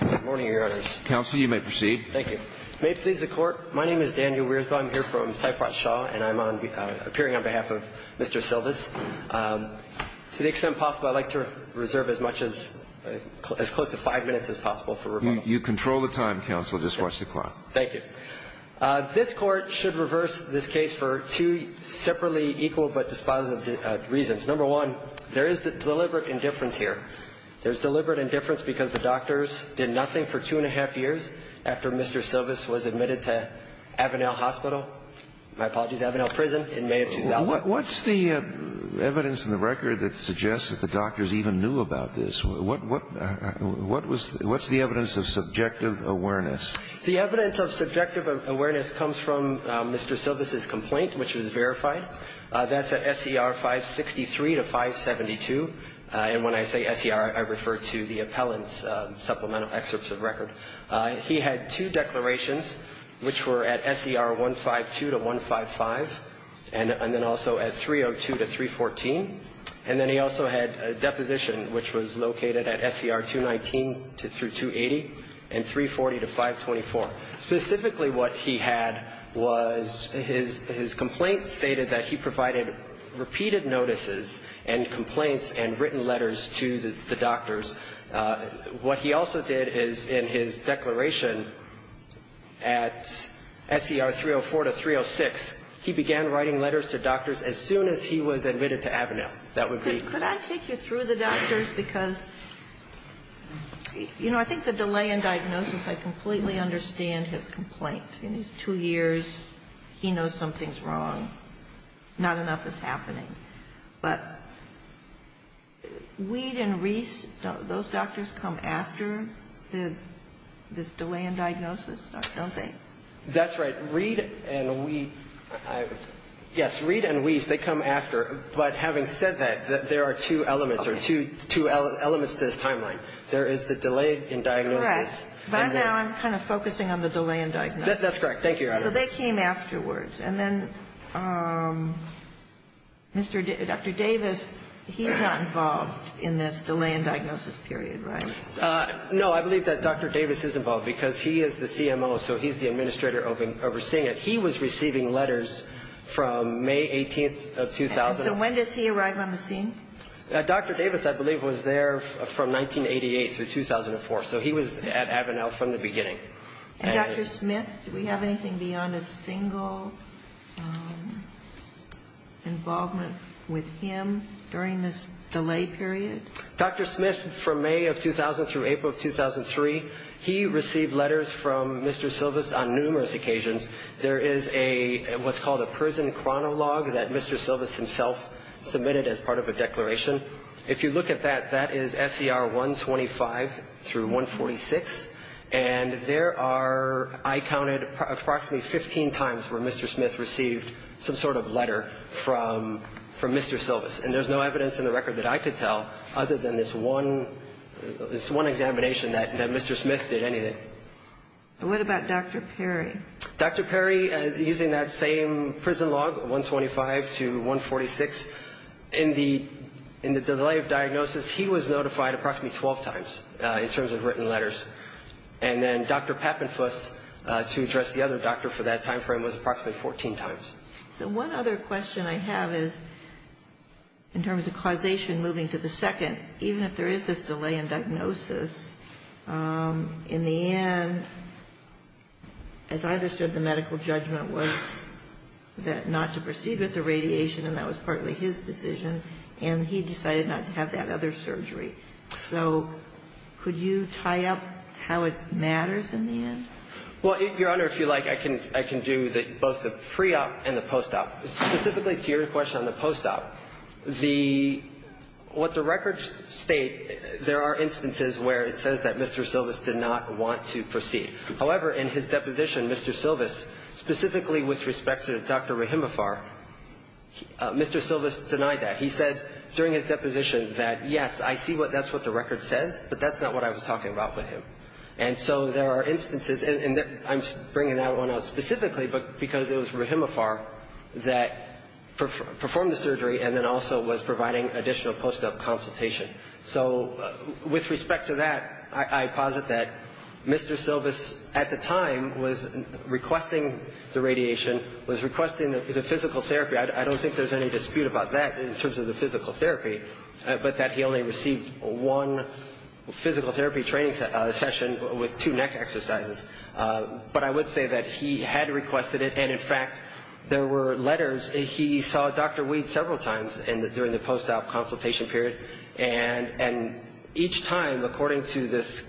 Good morning, Your Honors. Counsel, you may proceed. Thank you. May it please the Court, my name is Daniel Weersbaugh. I'm here from Sefrat Shaw, and I'm appearing on behalf of Mr. Silvis. To the extent possible, I'd like to reserve as much as close to five minutes as possible for rebuttal. You control the time, Counsel. Just watch the clock. Thank you. This Court should reverse this case for two separately equal but dispositive reasons. Number one, there is deliberate indifference here. There is deliberate indifference because the doctors did nothing for two and a half years after Mr. Silvis was admitted to Avonell Hospital My apologies, Avonell Prison in May of 2001. What's the evidence in the record that suggests that the doctors even knew about this? What's the evidence of subjective awareness? The evidence of subjective awareness comes from Mr. Silvis' complaint, which was verified. That's at SCR 563 to 572. And when I say SCR, I refer to the appellant's supplemental excerpts of record. He had two declarations, which were at SCR 152 to 155, and then also at 302 to 314. And then he also had a deposition, which was located at SCR 219 through 280, and 340 to 524. Specifically what he had was his complaint stated that he provided repeated notices and complaints and written letters to the doctors. What he also did is in his declaration at SCR 304 to 306, he began writing letters to doctors as soon as he was admitted to Avonell. That would be the case. Could I take you through the doctors? Because, you know, I think the delay in diagnosis, I completely understand his complaint. In these two years, he knows something's wrong. Not enough is happening. But Reed and Reese, those doctors come after this delay in diagnosis, don't they? That's right. Reed and Reese, yes, Reed and Reese, they come after. But having said that, there are two elements to this timeline. There is the delay in diagnosis. Correct. But now I'm kind of focusing on the delay in diagnosis. That's correct. Thank you, Your Honor. So they came afterwards. And then Dr. Davis, he's not involved in this delay in diagnosis period, right? No. I believe that Dr. Davis is involved, because he is the CMO, so he's the administrator overseeing it. He was receiving letters from May 18th of 2000. And so when does he arrive on the scene? Dr. Davis, I believe, was there from 1988 through 2004. So he was at Avanell from the beginning. And Dr. Smith, do we have anything beyond a single involvement with him during this delay period? Dr. Smith, from May of 2000 through April of 2003, he received letters from Mr. Silvis on numerous occasions. There is what's called a prison chronologue that Mr. Silvis himself submitted as part of a declaration. If you look at that, that is SCR 125 through 146. And there are, I counted, approximately 15 times where Mr. Smith received some sort of letter from Mr. Silvis. And there's no evidence in the record that I could tell other than this one examination that Mr. Smith did anything. And what about Dr. Perry? Dr. Perry, using that same prison log, 125 to 146, in the delay of diagnosis, he was notified approximately 12 times in terms of written letters. And then Dr. Pappenfuss, to address the other doctor for that time frame, was approximately 14 times. So one other question I have is, in terms of causation moving to the second, even if there is this delay in diagnosis, in the end, as I understood, the medical judgment was that not to proceed with the radiation, and that was partly his decision. And he decided not to have that other surgery. So could you tie up how it matters in the end? Well, Your Honor, if you like, I can do both the pre-op and the post-op. Specifically to your question on the post-op, the – what the records state, there are instances where it says that Mr. Silvis did not want to proceed. However, in his deposition, Mr. Silvis, specifically with respect to Dr. Rahimafar, Mr. Silvis denied that. He said during his deposition that, yes, I see what – that's what the record says, but that's not what I was talking about with him. And so there are instances – and I'm bringing that one up specifically because it was Rahimafar that performed the surgery and then also was providing additional post-op consultation. So with respect to that, I posit that Mr. Silvis at the time was requesting the radiation, was requesting the physical therapy. I don't think there's any dispute about that in terms of the physical therapy, but that he only received one physical therapy training session with two neck exercises. But I would say that he had requested it, and, in fact, there were letters. He saw Dr. Weed several times during the post-op consultation period. And each time, according to this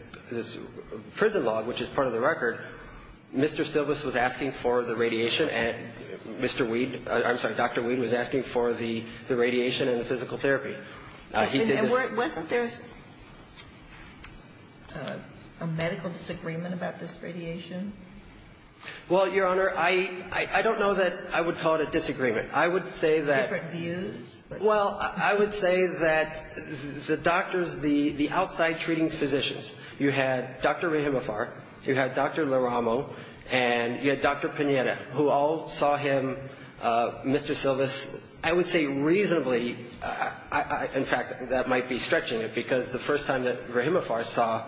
prison log, which is part of the record, Mr. Silvis was asking for the radiation and Mr. Weed – And wasn't there a medical disagreement about this radiation? Well, Your Honor, I don't know that I would call it a disagreement. I would say that – Different views? Well, I would say that the doctors, the outside treating physicians, you had Dr. Rahimafar, you had Dr. Laramo, and you had Dr. Pineda, who all saw him, Mr. Silvis, I would say reasonably – in fact, that might be stretching it, because the first time that Rahimafar saw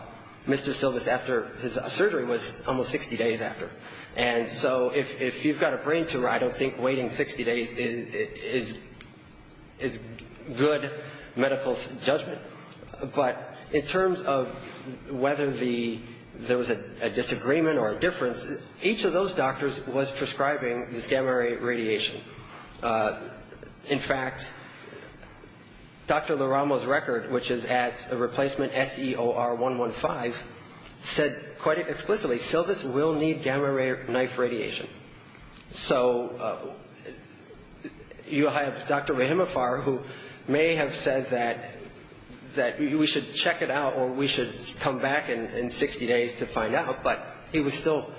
Mr. Silvis after his surgery was almost 60 days after. And so if you've got a brain tumor, I don't think waiting 60 days is good medical judgment. But in terms of whether there was a disagreement or a difference, each of those doctors was prescribing this gamma ray radiation. In fact, Dr. Laramo's record, which is at a replacement SEOR 115, said quite explicitly, Silvis will need gamma ray knife radiation. So you have Dr. Rahimafar, who may have said that we should check it out or we should come back in 60 days to find out, but he was still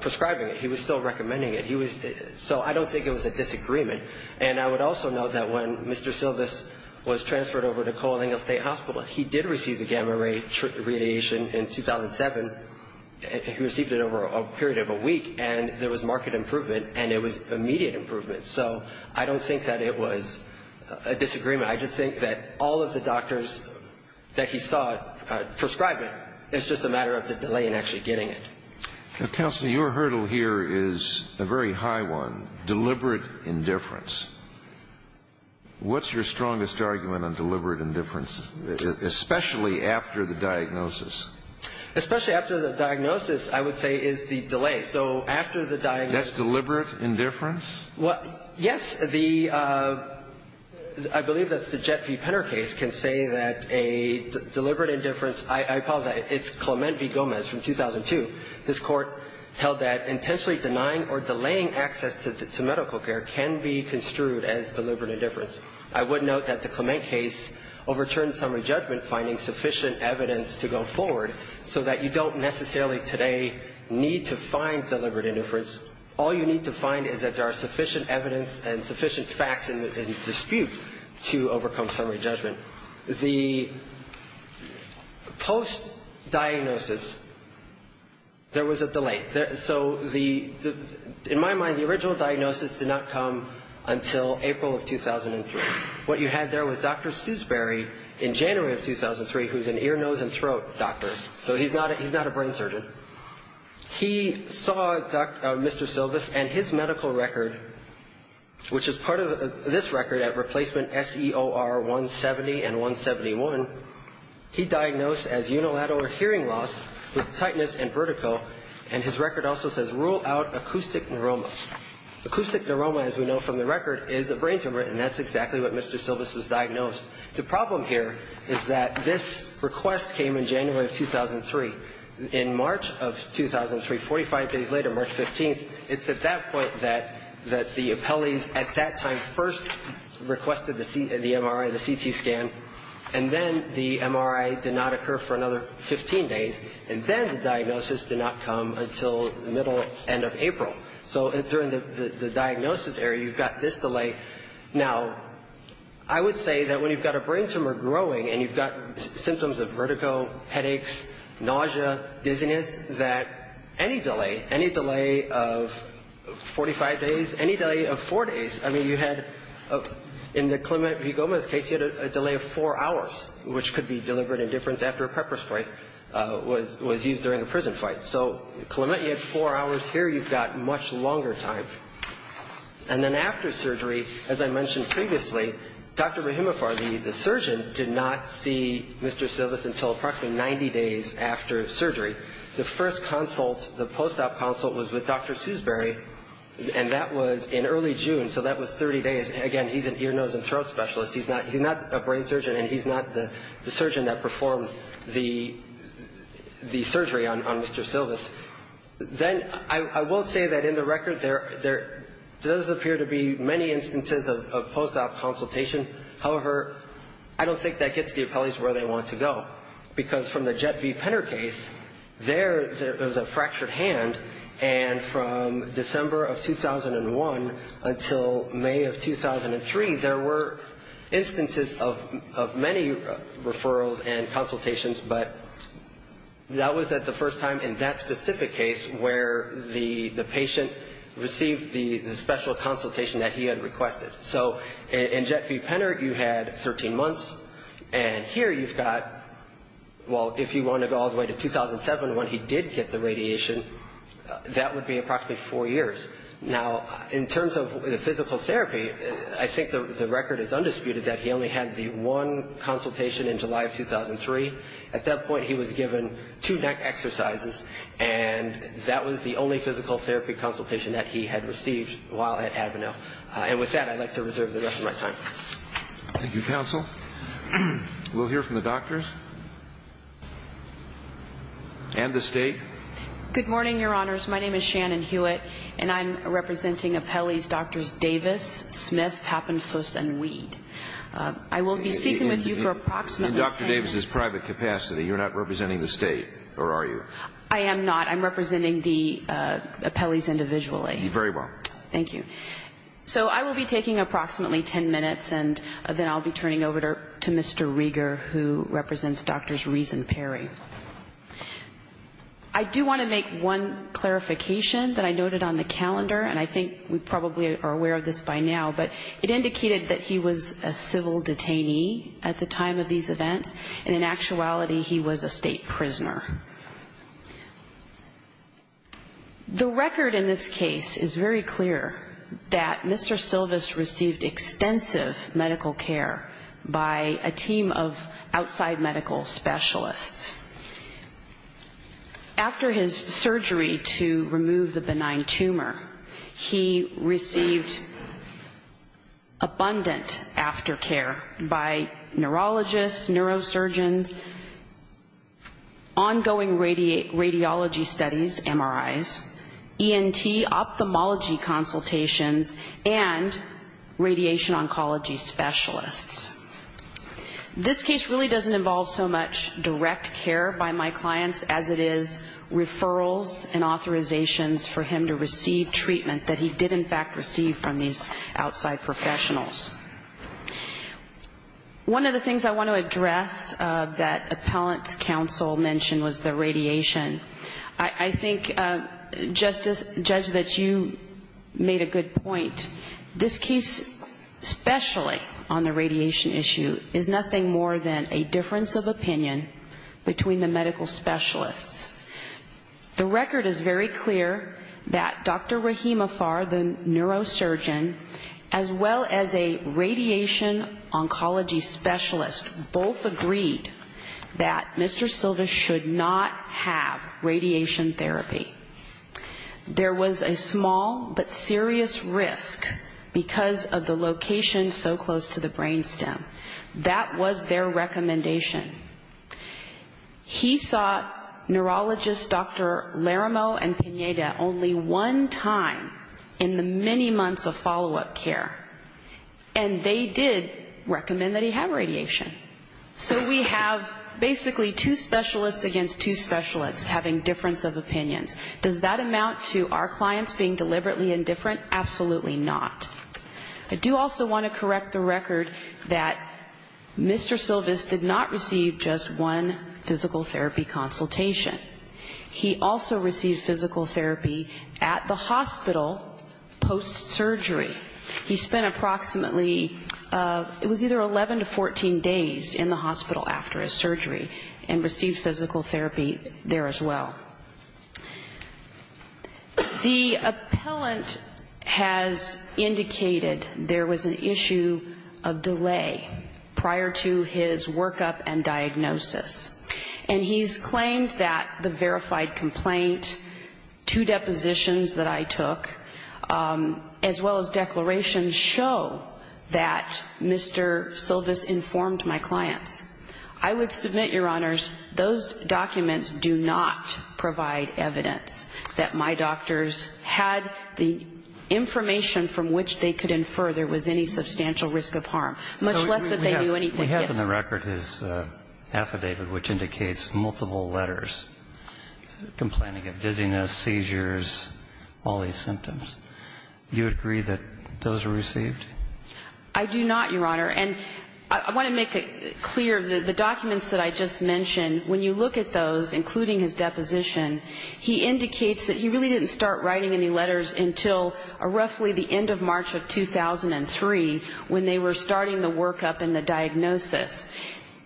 prescribing it. He was still recommending it. So I don't think it was a disagreement. And I would also note that when Mr. Silvis was transferred over to Colonial State Hospital, he did receive the gamma ray radiation in 2007. He received it over a period of a week, and there was marked improvement, and it was immediate improvement. So I don't think that it was a disagreement. I just think that all of the doctors that he saw prescribing it, it's just a matter of the delay in actually getting it. Counsel, your hurdle here is a very high one, deliberate indifference. What's your strongest argument on deliberate indifference, especially after the diagnosis? Especially after the diagnosis, I would say, is the delay. So after the diagnosis — That's deliberate indifference? Well, yes. The — I believe that's the Jet v. Penner case can say that a deliberate indifference — I apologize. It's Clement v. Gomez from 2002. This Court held that intentionally denying or delaying access to medical care can be construed as deliberate indifference. I would note that the Clement case overturned summary judgment, finding sufficient evidence to go forward, so that you don't necessarily today need to find deliberate indifference. All you need to find is that there are sufficient evidence and sufficient facts in dispute to overcome summary judgment. The post-diagnosis, there was a delay. So the — in my mind, the original diagnosis did not come until April of 2003. What you had there was Dr. Seusbury in January of 2003, who's an ear, nose and throat doctor. So he's not a brain surgeon. He saw Dr. — Mr. Silvis and his medical record, which is part of this record at replacement S-E-O-R 170 and 171, he diagnosed as unilateral hearing loss with tightness and vertigo, and his record also says rule out acoustic neuromas. Acoustic neuroma, as we know from the record, is a brain tumor, and that's exactly what Mr. Silvis was diagnosed. The problem here is that this request came in January of 2003. In March of 2003, 45 days later, March 15th, it's at that point that the appellees at that time first requested the MRI, the CT scan, and then the MRI did not occur for another 15 days, and then the diagnosis did not come until the middle end of April. So during the diagnosis area, you've got this delay. Now, I would say that when you've got a brain tumor growing and you've got symptoms of vertigo, headaches, nausea, dizziness, that any delay, any delay of 45 days, any delay of four days, I mean, you had — in the Clement Vigoma's case, you had a delay of four hours, which could be deliberate indifference after a pepper spray was used during a prison fight. So Clement, you had four hours. Here you've got much longer time. And then after surgery, as I mentioned previously, Dr. Rahimafar, the surgeon, did not see Mr. Silvis until approximately 90 days after surgery. The first consult, the post-op consult, was with Dr. Sewsbury, and that was in early June, so that was 30 days. Again, he's an ear, nose, and throat specialist. He's not a brain surgeon, and he's not the surgeon that performed the surgery on Mr. Silvis. Then I will say that in the record, there does appear to be many instances of post-op consultation. However, I don't think that gets the appellees where they want to go, because from the Jet V Penner case, there was a fractured hand, and from December of 2001 until May of 2003, there were instances of many referrals and consultations, but that was the first time in that specific case where the patient received the special consultation that he had requested. So in Jet V Penner, you had 13 months. And here you've got, well, if you want to go all the way to 2007 when he did get the radiation, that would be approximately four years. Now, in terms of the physical therapy, I think the record is undisputed that he only had the one consultation in July of 2003. At that point, he was given two neck exercises, and that was the only physical therapy consultation that he had received while at Advanel. And with that, I'd like to reserve the rest of my time. Thank you, Counsel. We'll hear from the doctors and the State. Good morning, Your Honors. My name is Shannon Hewitt, and I'm representing appellees Drs. Davis, Smith, Pappenfuss, and Weed. I will be speaking with you for approximately 10 minutes. In Dr. Davis's private capacity, you're not representing the State, or are you? I am not. I'm representing the appellees individually. Very well. Thank you. So I will be taking approximately 10 minutes, and then I'll be turning over to Mr. Rieger, who represents Drs. Rees and Perry. I do want to make one clarification that I noted on the calendar, and I think we probably are aware of this by now, but it indicated that he was a civil detainee at the time of these events, and in actuality, he was a State prisoner. The record in this case is very clear that Mr. Silvis received extensive medical care by a team of outside medical specialists. After his surgery to remove the benign tumor, he received abundant aftercare by neurologists, neurosurgeons, ongoing radiology studies, MRIs, ENT ophthalmology consultations, and radiation oncology specialists. This case really doesn't involve so much direct care by my clients as it is referrals and authorizations for him to receive treatment that he did, in fact, receive from these outside professionals. One of the things I want to address that appellant's counsel mentioned was the radiation. I think, Judge, that you made a good point. This case, especially on the radiation issue, is nothing more than a difference of opinion between the medical specialists. The record is very clear that Dr. Rahim Afar, the neurosurgeon, as well as a radiation oncology specialist, both agreed that Mr. Silvis should not have radiation therapy. There was a small but serious risk because of the location so close to the brain stem. That was their recommendation. He saw neurologists, Dr. Laramo and Pineda, only one time in the many months of follow-up care. And they did recommend that he have radiation. So we have basically two specialists against two specialists having difference of opinions. Does that amount to our clients being deliberately indifferent? Absolutely not. I do also want to correct the record that Mr. Silvis did not receive just one physical therapy consultation. He also received physical therapy at the hospital post-surgery. He spent approximately, it was either 11 to 14 days in the hospital after his surgery and received physical therapy there as well. The appellant has indicated there was an issue of delay prior to his workup and diagnosis. And he's claimed that the verified complaint, two depositions that I took, as well as declarations show that Mr. Silvis informed my clients. I would submit, Your Honors, those documents do not provide evidence that my doctors had the information from which they could infer there was any substantial risk of harm, much less that they knew anything. We have in the record his affidavit, which indicates multiple letters, complaining of dizziness, seizures, all these symptoms. Do you agree that those were received? I do not, Your Honor. And I want to make it clear, the documents that I just mentioned, when you look at those, including his deposition, he indicates that he really didn't start writing any letters until roughly the end of March of 2003 when they were starting the workup and the diagnosis.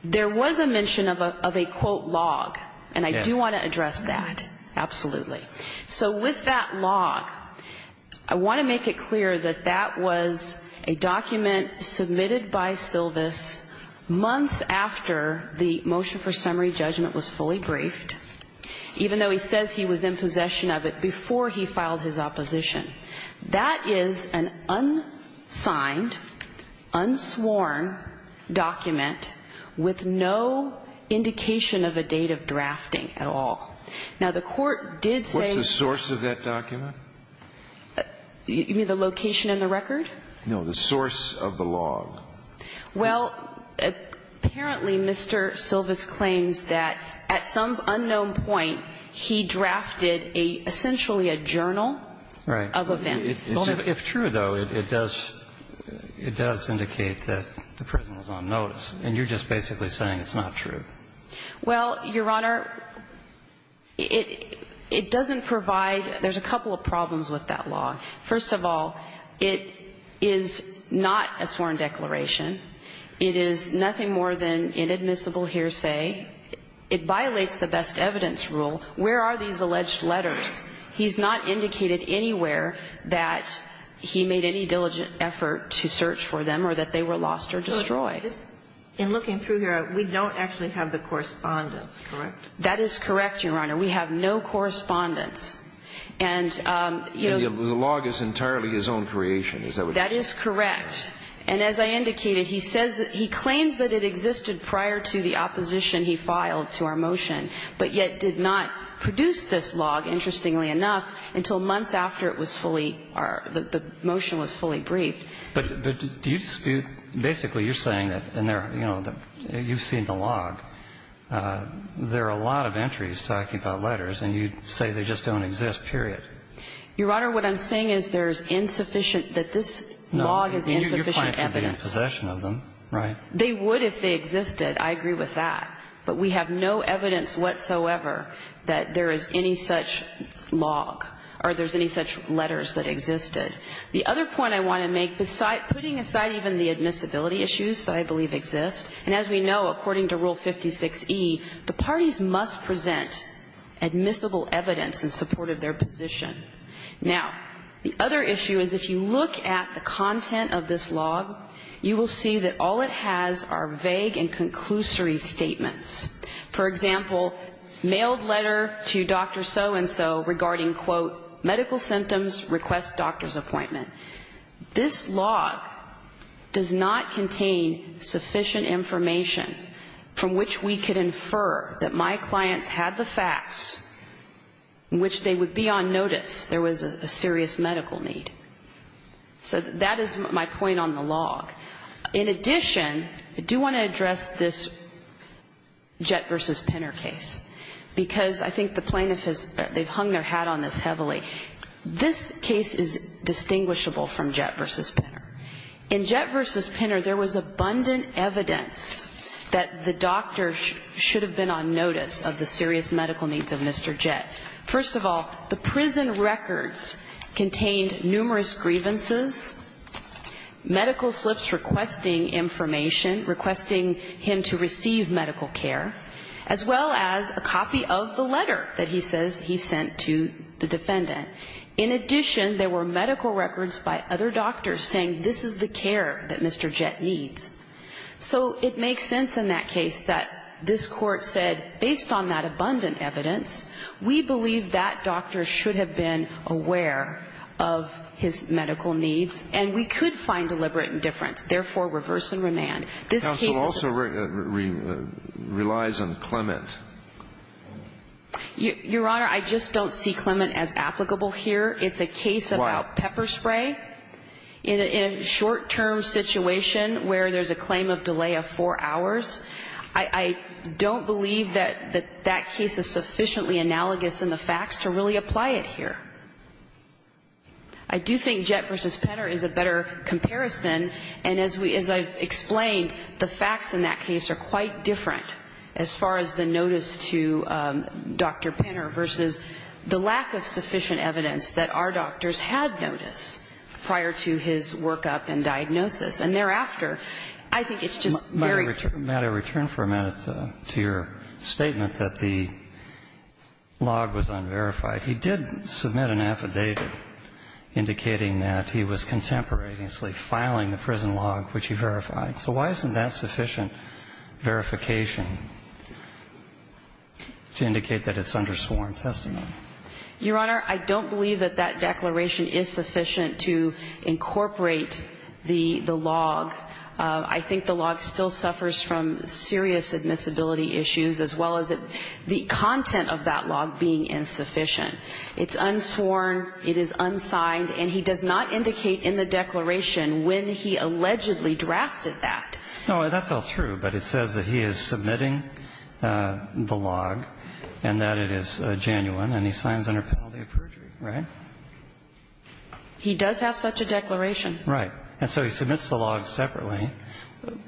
There was a mention of a quote log, and I do want to address that, absolutely. So with that log, I want to make it clear that that was a document submitted by Silvis months after the motion for summary judgment was fully briefed, even though he says he was in possession of it before he filed his opposition. That is an unsigned, unsworn document with no indication of a date of drafting at all. Now, the Court did say the source of that document? You mean the location in the record? No. The source of the log. Well, apparently Mr. Silvis claims that at some unknown point he drafted a, essentially a journal of events. Right. If true, though, it does indicate that the person was on notice. And you're just basically saying it's not true. Well, Your Honor, it doesn't provide – there's a couple of problems with that log. First of all, it is not a sworn declaration. It is nothing more than inadmissible hearsay. It violates the best evidence rule. Where are these alleged letters? He's not indicated anywhere that he made any diligent effort to search for them or that they were lost or destroyed. In looking through here, we don't actually have the correspondence, correct? That is correct, Your Honor. We have no correspondence. And, you know – The log is entirely his own creation, is that what you're saying? That is correct. And as I indicated, he says – he claims that it existed prior to the opposition he filed to our motion, but yet did not produce this log, interestingly enough, until months after it was fully – the motion was fully briefed. But do you – basically, you're saying that – and there – you know, you've seen the log. There are a lot of entries talking about letters, and you say they just don't exist, period. Your Honor, what I'm saying is there's insufficient – that this log is insufficient evidence. No, you're claiming to be in possession of them, right? They would if they existed. I agree with that. But we have no evidence whatsoever that there is any such log or there's any such letters that existed. The other point I want to make, putting aside even the admissibility issues that I believe exist, and as we know, according to Rule 56e, the parties must present admissible evidence in support of their position. Now, the other issue is if you look at the content of this log, you will see that all it has are vague and conclusory statements. For example, mailed letter to Dr. So-and-so regarding, quote, medical symptoms, request doctor's appointment. This log does not contain sufficient information from which we could infer that my clients had the facts in which they would be on notice there was a serious medical need. So that is my point on the log. In addition, I do want to address this Jett v. Pinner case, because I think the plaintiff has hung their hat on this heavily. This case is distinguishable from Jett v. Pinner. In Jett v. Pinner, there was abundant evidence that the doctor should have been on notice of the serious medical needs of Mr. Jett. First of all, the prison records contained numerous grievances, medical slips requesting information, requesting him to receive medical care, as well as a copy of the letter that he says he sent to the defendant. In addition, there were medical records by other doctors saying this is the care that Mr. Jett needs. So it makes sense in that case that this Court said, based on that abundant evidence, we believe that doctor should have been aware of his medical needs, and we could find deliberate indifference. Therefore, reverse and remand. This case is the same. Alitoson relies on Clement. Your Honor, I just don't see Clement as applicable here. It's a case about pepper spray. In a short-term situation where there's a claim of delay of four hours, I don't believe that that case is sufficiently analogous in the facts to really apply it here. I do think Jett v. Penner is a better comparison. And as I've explained, the facts in that case are quite different as far as the notice to Dr. Penner versus the lack of sufficient evidence that our doctors had noticed prior to his workup and diagnosis. And thereafter, I think it's just very true. May I return for a minute to your statement that the log was unverified? He did submit an affidavit indicating that he was contemporaneously filing the prison log, which he verified. So why isn't that sufficient verification to indicate that it's undersworn testimony? Your Honor, I don't believe that that declaration is sufficient to incorporate the log. I think the log still suffers from serious admissibility issues, as well as the content of that log being insufficient. It's unsworn, it is unsigned, and he does not indicate in the declaration when he allegedly drafted that. No, that's all true, but it says that he is submitting the log and that it is genuine, and he signs under penalty of perjury, right? He does have such a declaration. Right. And so he submits the log separately.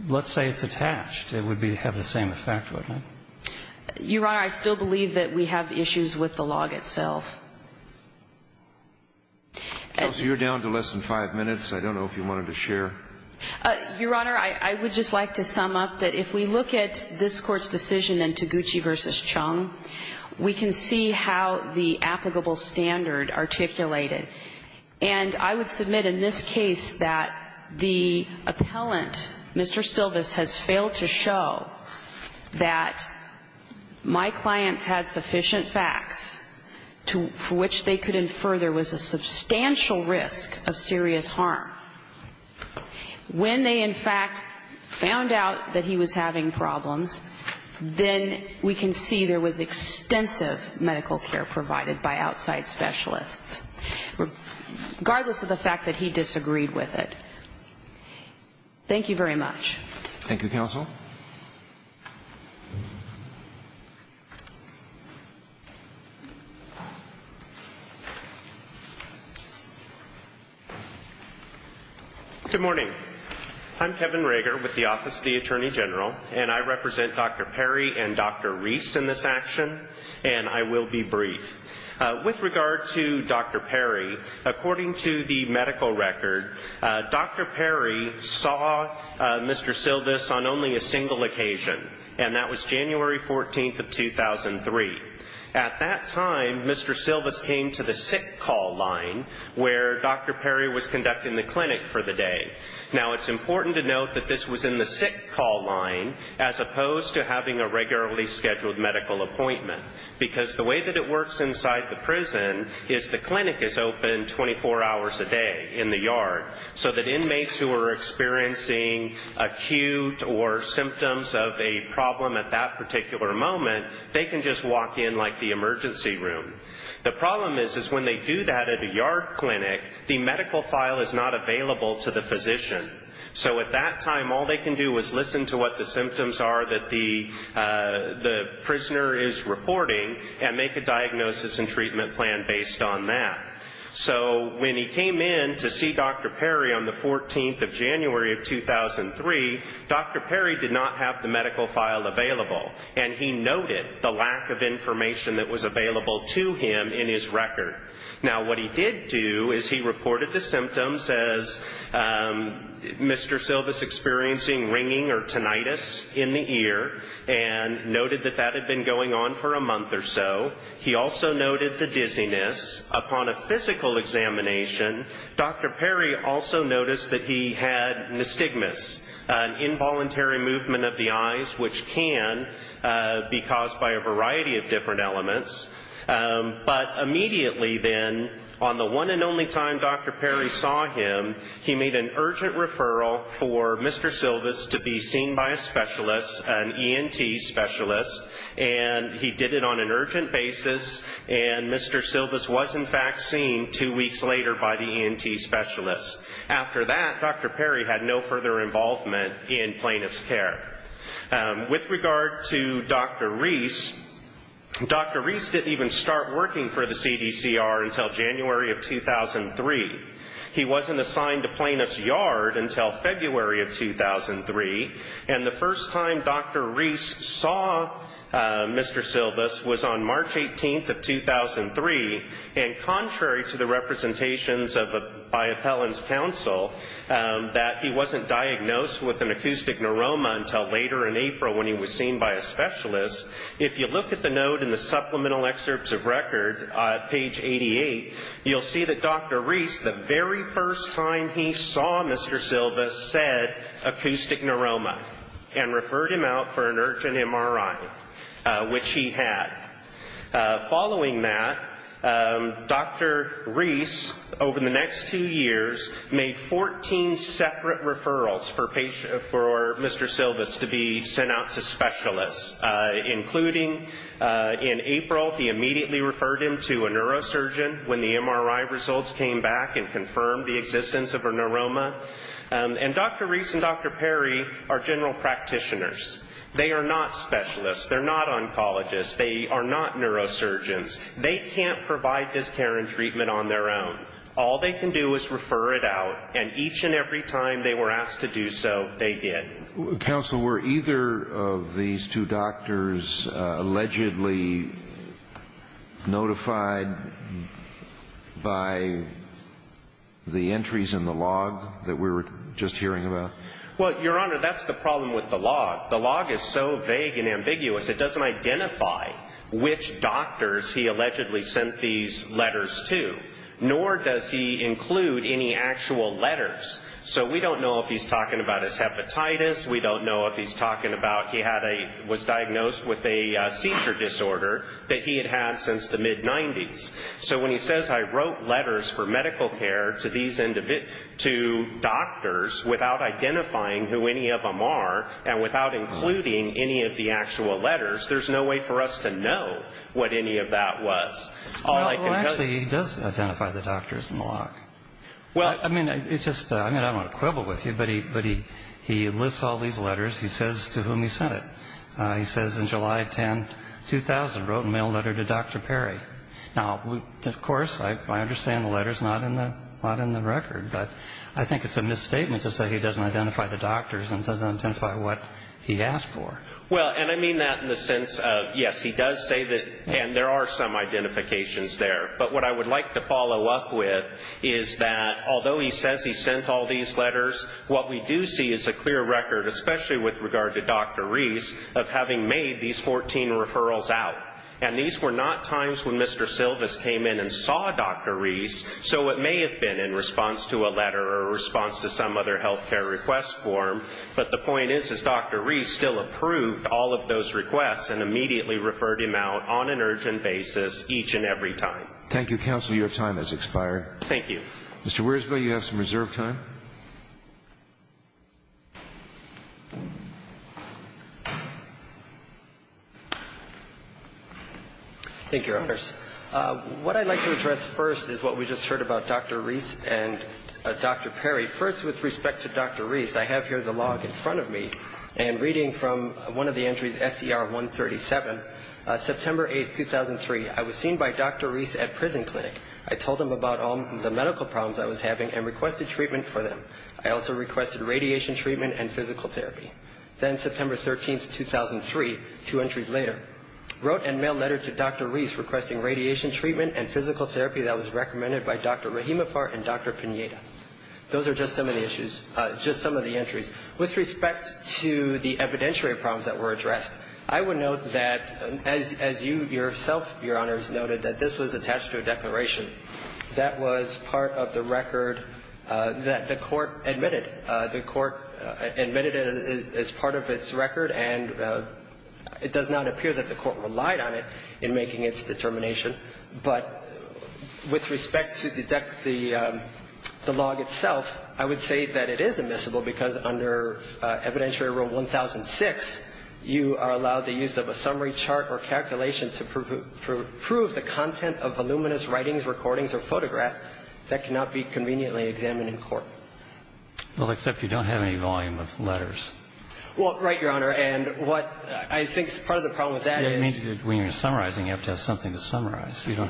Let's say it's attached. It would have the same effect, wouldn't it? Your Honor, I still believe that we have issues with the log itself. Counsel, you're down to less than five minutes. I don't know if you wanted to share. Your Honor, I would just like to sum up that if we look at this Court's decision in Taguchi v. Chung, we can see how the applicable standard articulated. And I would submit in this case that the appellant, Mr. Silvis, has failed to show that my clients had sufficient facts for which they could infer there was a substantial risk of serious harm. When they, in fact, found out that he was having problems, then we can see there was extensive medical care provided by outside specialists. Regardless of the fact that he disagreed with it. Thank you very much. Thank you, Counsel. Good morning. I'm Kevin Rager with the Office of the Attorney General, and I represent Dr. Perry and Dr. Reese in this action, and I will be brief. With regard to Dr. Perry, according to the medical record, Dr. Perry saw Mr. Silvis on only a single occasion, and that was January 14th of 2003. At that time, Mr. Silvis came to the sick call line, where Dr. Perry was conducting the clinic for the day. Now, it's important to note that this was in the sick call line, as opposed to having a regularly scheduled medical appointment, because the way that it works inside the prison is the clinic is open 24 hours a day in the yard, so that inmates who are experiencing acute or symptoms of a problem at that particular moment, they can just walk in like the emergency room. The problem is when they do that at a yard clinic, the medical file is not available to the physician. So at that time, all they can do is listen to what the symptoms are that the and make a diagnosis and treatment plan based on that. So when he came in to see Dr. Perry on the 14th of January of 2003, Dr. Perry did not have the medical file available, and he noted the lack of information that was available to him in his record. Now, what he did do is he reported the symptoms as Mr. Silvis experiencing ringing or tinnitus in the ear and noted that that had been going on for a month or so. He also noted the dizziness. Upon a physical examination, Dr. Perry also noticed that he had nystigmus, an involuntary movement of the eyes which can be caused by a variety of different elements. But immediately then, on the one and only time Dr. Perry saw him, he made an urgent referral for Mr. Silvis to be seen by a specialist, an ENT specialist, and he did it on an urgent basis, and Mr. Silvis was in fact seen two weeks later by the ENT specialist. After that, Dr. Perry had no further involvement in plaintiff's care. With regard to Dr. Reese, Dr. Reese didn't even start working for the CDCR until January of 2003. He wasn't assigned to plaintiff's yard until February of 2003, and the first time Dr. Reese saw Mr. Silvis was on March 18th of 2003, and contrary to the representations by Appellant's counsel that he wasn't diagnosed with an acoustic neuroma until later in April when he was seen by a specialist, if you look at the note in the supplemental excerpts of record, page 88, you'll see that Dr. Reese, the very first time he saw Mr. Silvis, said acoustic neuroma and referred him out for an urgent MRI, which he had. Following that, Dr. Reese, over the next two years, made 14 separate referrals for Mr. Silvis to be sent out to specialists, including in April he immediately referred him to a neurosurgeon when the MRI results came back and confirmed the existence of a neuroma. And Dr. Reese and Dr. Perry are general practitioners. They are not specialists. They're not oncologists. They are not neurosurgeons. They can't provide this care and treatment on their own. All they can do is refer it out, and each and every time they were asked to do so, they did. Counsel, were either of these two doctors allegedly notified by the entries in the log that we were just hearing about? Well, Your Honor, that's the problem with the log. The log is so vague and ambiguous, it doesn't identify which doctors he allegedly sent these letters to, nor does he include any actual letters. So we don't know if he's talking about his hepatitis. We don't know if he's talking about he was diagnosed with a seizure disorder that he had had since the mid-'90s. So when he says, I wrote letters for medical care to these two doctors without identifying who any of them are and without including any of the actual letters, there's no way for us to know what any of that was. All I can tell you ñ Well, actually, he does identify the doctors in the log. I mean, I don't want to quibble with you, but he lists all these letters. He says to whom he sent it. He says in July of 2000, wrote a mail letter to Dr. Perry. Now, of course, I understand the letter's not in the record, but I think it's a misstatement to say he doesn't identify the doctors and doesn't identify what he asked for. Well, and I mean that in the sense of, yes, he does say that, and there are some identifications there. But what I would like to follow up with is that although he says he sent all these letters, what we do see is a clear record, especially with regard to Dr. Reese, of having made these 14 referrals out. And these were not times when Mr. Silvis came in and saw Dr. Reese, so it may have been in response to a letter or a response to some other health care request form. But the point is, is Dr. Reese still approved all of those requests and immediately referred him out on an urgent basis each and every time? Thank you, counsel. Your time has expired. Thank you. Mr. Weresville, you have some reserved time. Thank you, Your Honors. What I'd like to address first is what we just heard about Dr. Reese and Dr. Perry. First, with respect to Dr. Reese, I have here the log in front of me, and reading from one of the entries, SCR 137, September 8, 2003, I was seen by Dr. Reese at prison clinic. I told him about all the medical problems I was having and requested treatment for them. I also requested radiation treatment and physical therapy. Then September 13, 2003, two entries later, wrote and mailed a letter to Dr. Reese requesting radiation treatment and physical therapy that was recommended by Dr. Rahimapar and Dr. Pineda. I would note that, as you yourself, Your Honors, noted, that this was attached to a declaration that was part of the record that the court admitted. The court admitted it as part of its record, and it does not appear that the court relied on it in making its determination. But with respect to the log itself, I would say that it is admissible because under Evidentiary Rule 1006, you are allowed the use of a summary chart or calculation to prove the content of voluminous writings, recordings, or photograph that cannot be conveniently examined in court. Well, except you don't have any volume of letters. Well, right, Your Honor. And what I think is part of the problem with that is you have to have something to summarize. You don't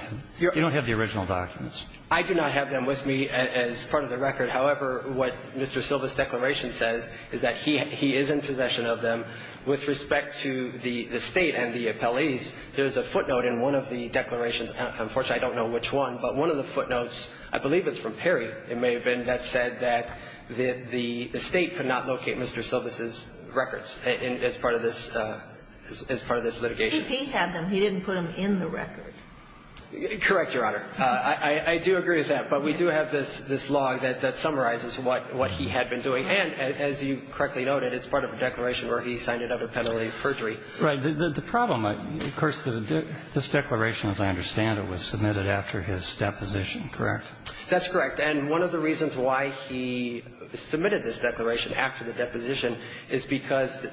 have the original documents. I do not have them with me as part of the record. However, what Mr. Silva's declaration says is that he is in possession of them. With respect to the State and the appellees, there's a footnote in one of the declarations. Unfortunately, I don't know which one, but one of the footnotes, I believe it's from Perry, it may have been, that said that the State could not locate Mr. Silva's records as part of this litigation. If he had them, he didn't put them in the record. Correct, Your Honor. I do agree with that, but we do have this log that summarizes what he had been doing. And as you correctly noted, it's part of a declaration where he signed it under penalty of perjury. Right. The problem, of course, this declaration, as I understand it, was submitted after his deposition, correct? That's correct. And one of the reasons why he submitted this declaration after the deposition is because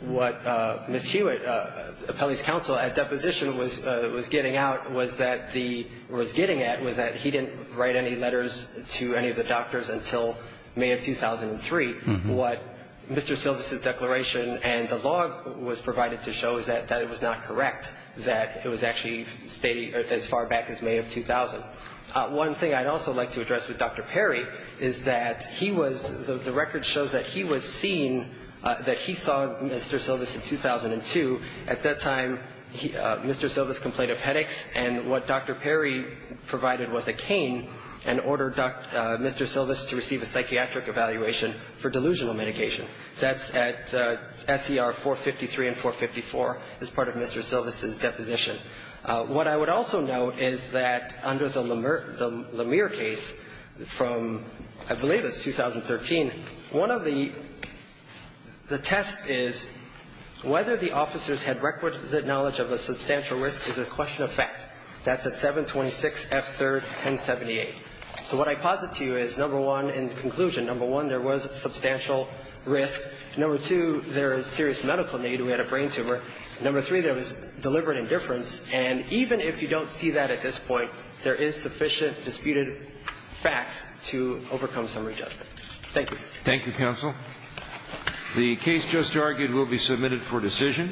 what Ms. Hewitt, appellee's counsel, at deposition was getting out was that he didn't write any letters to any of the doctors until May of 2003. What Mr. Silva's declaration and the log was provided to show is that it was not correct, that it was actually as far back as May of 2000. One thing I'd also like to address with Dr. Perry is that he was the record shows that he was seen, that he saw Mr. Silva's in 2002. At that time, Mr. Silva's complained of headaches, and what Dr. Perry provided was a cane and ordered Mr. Silva's to receive a psychiatric evaluation for delusional medication. That's at SER 453 and 454 as part of Mr. Silva's deposition. What I would also note is that under the Lemire case from, I believe it's 2013, one of the tests is whether the officers had requisite knowledge of a substantial risk is a question of fact. That's at 726F3-1078. So what I posit to you is, number one, in conclusion, number one, there was substantial risk. Number two, there is serious medical need. We had a brain tumor. Number three, there was deliberate indifference. And even if you don't see that at this point, there is sufficient disputed facts to overcome summary judgment. Thank you. Thank you, counsel. The case just argued will be submitted for decision.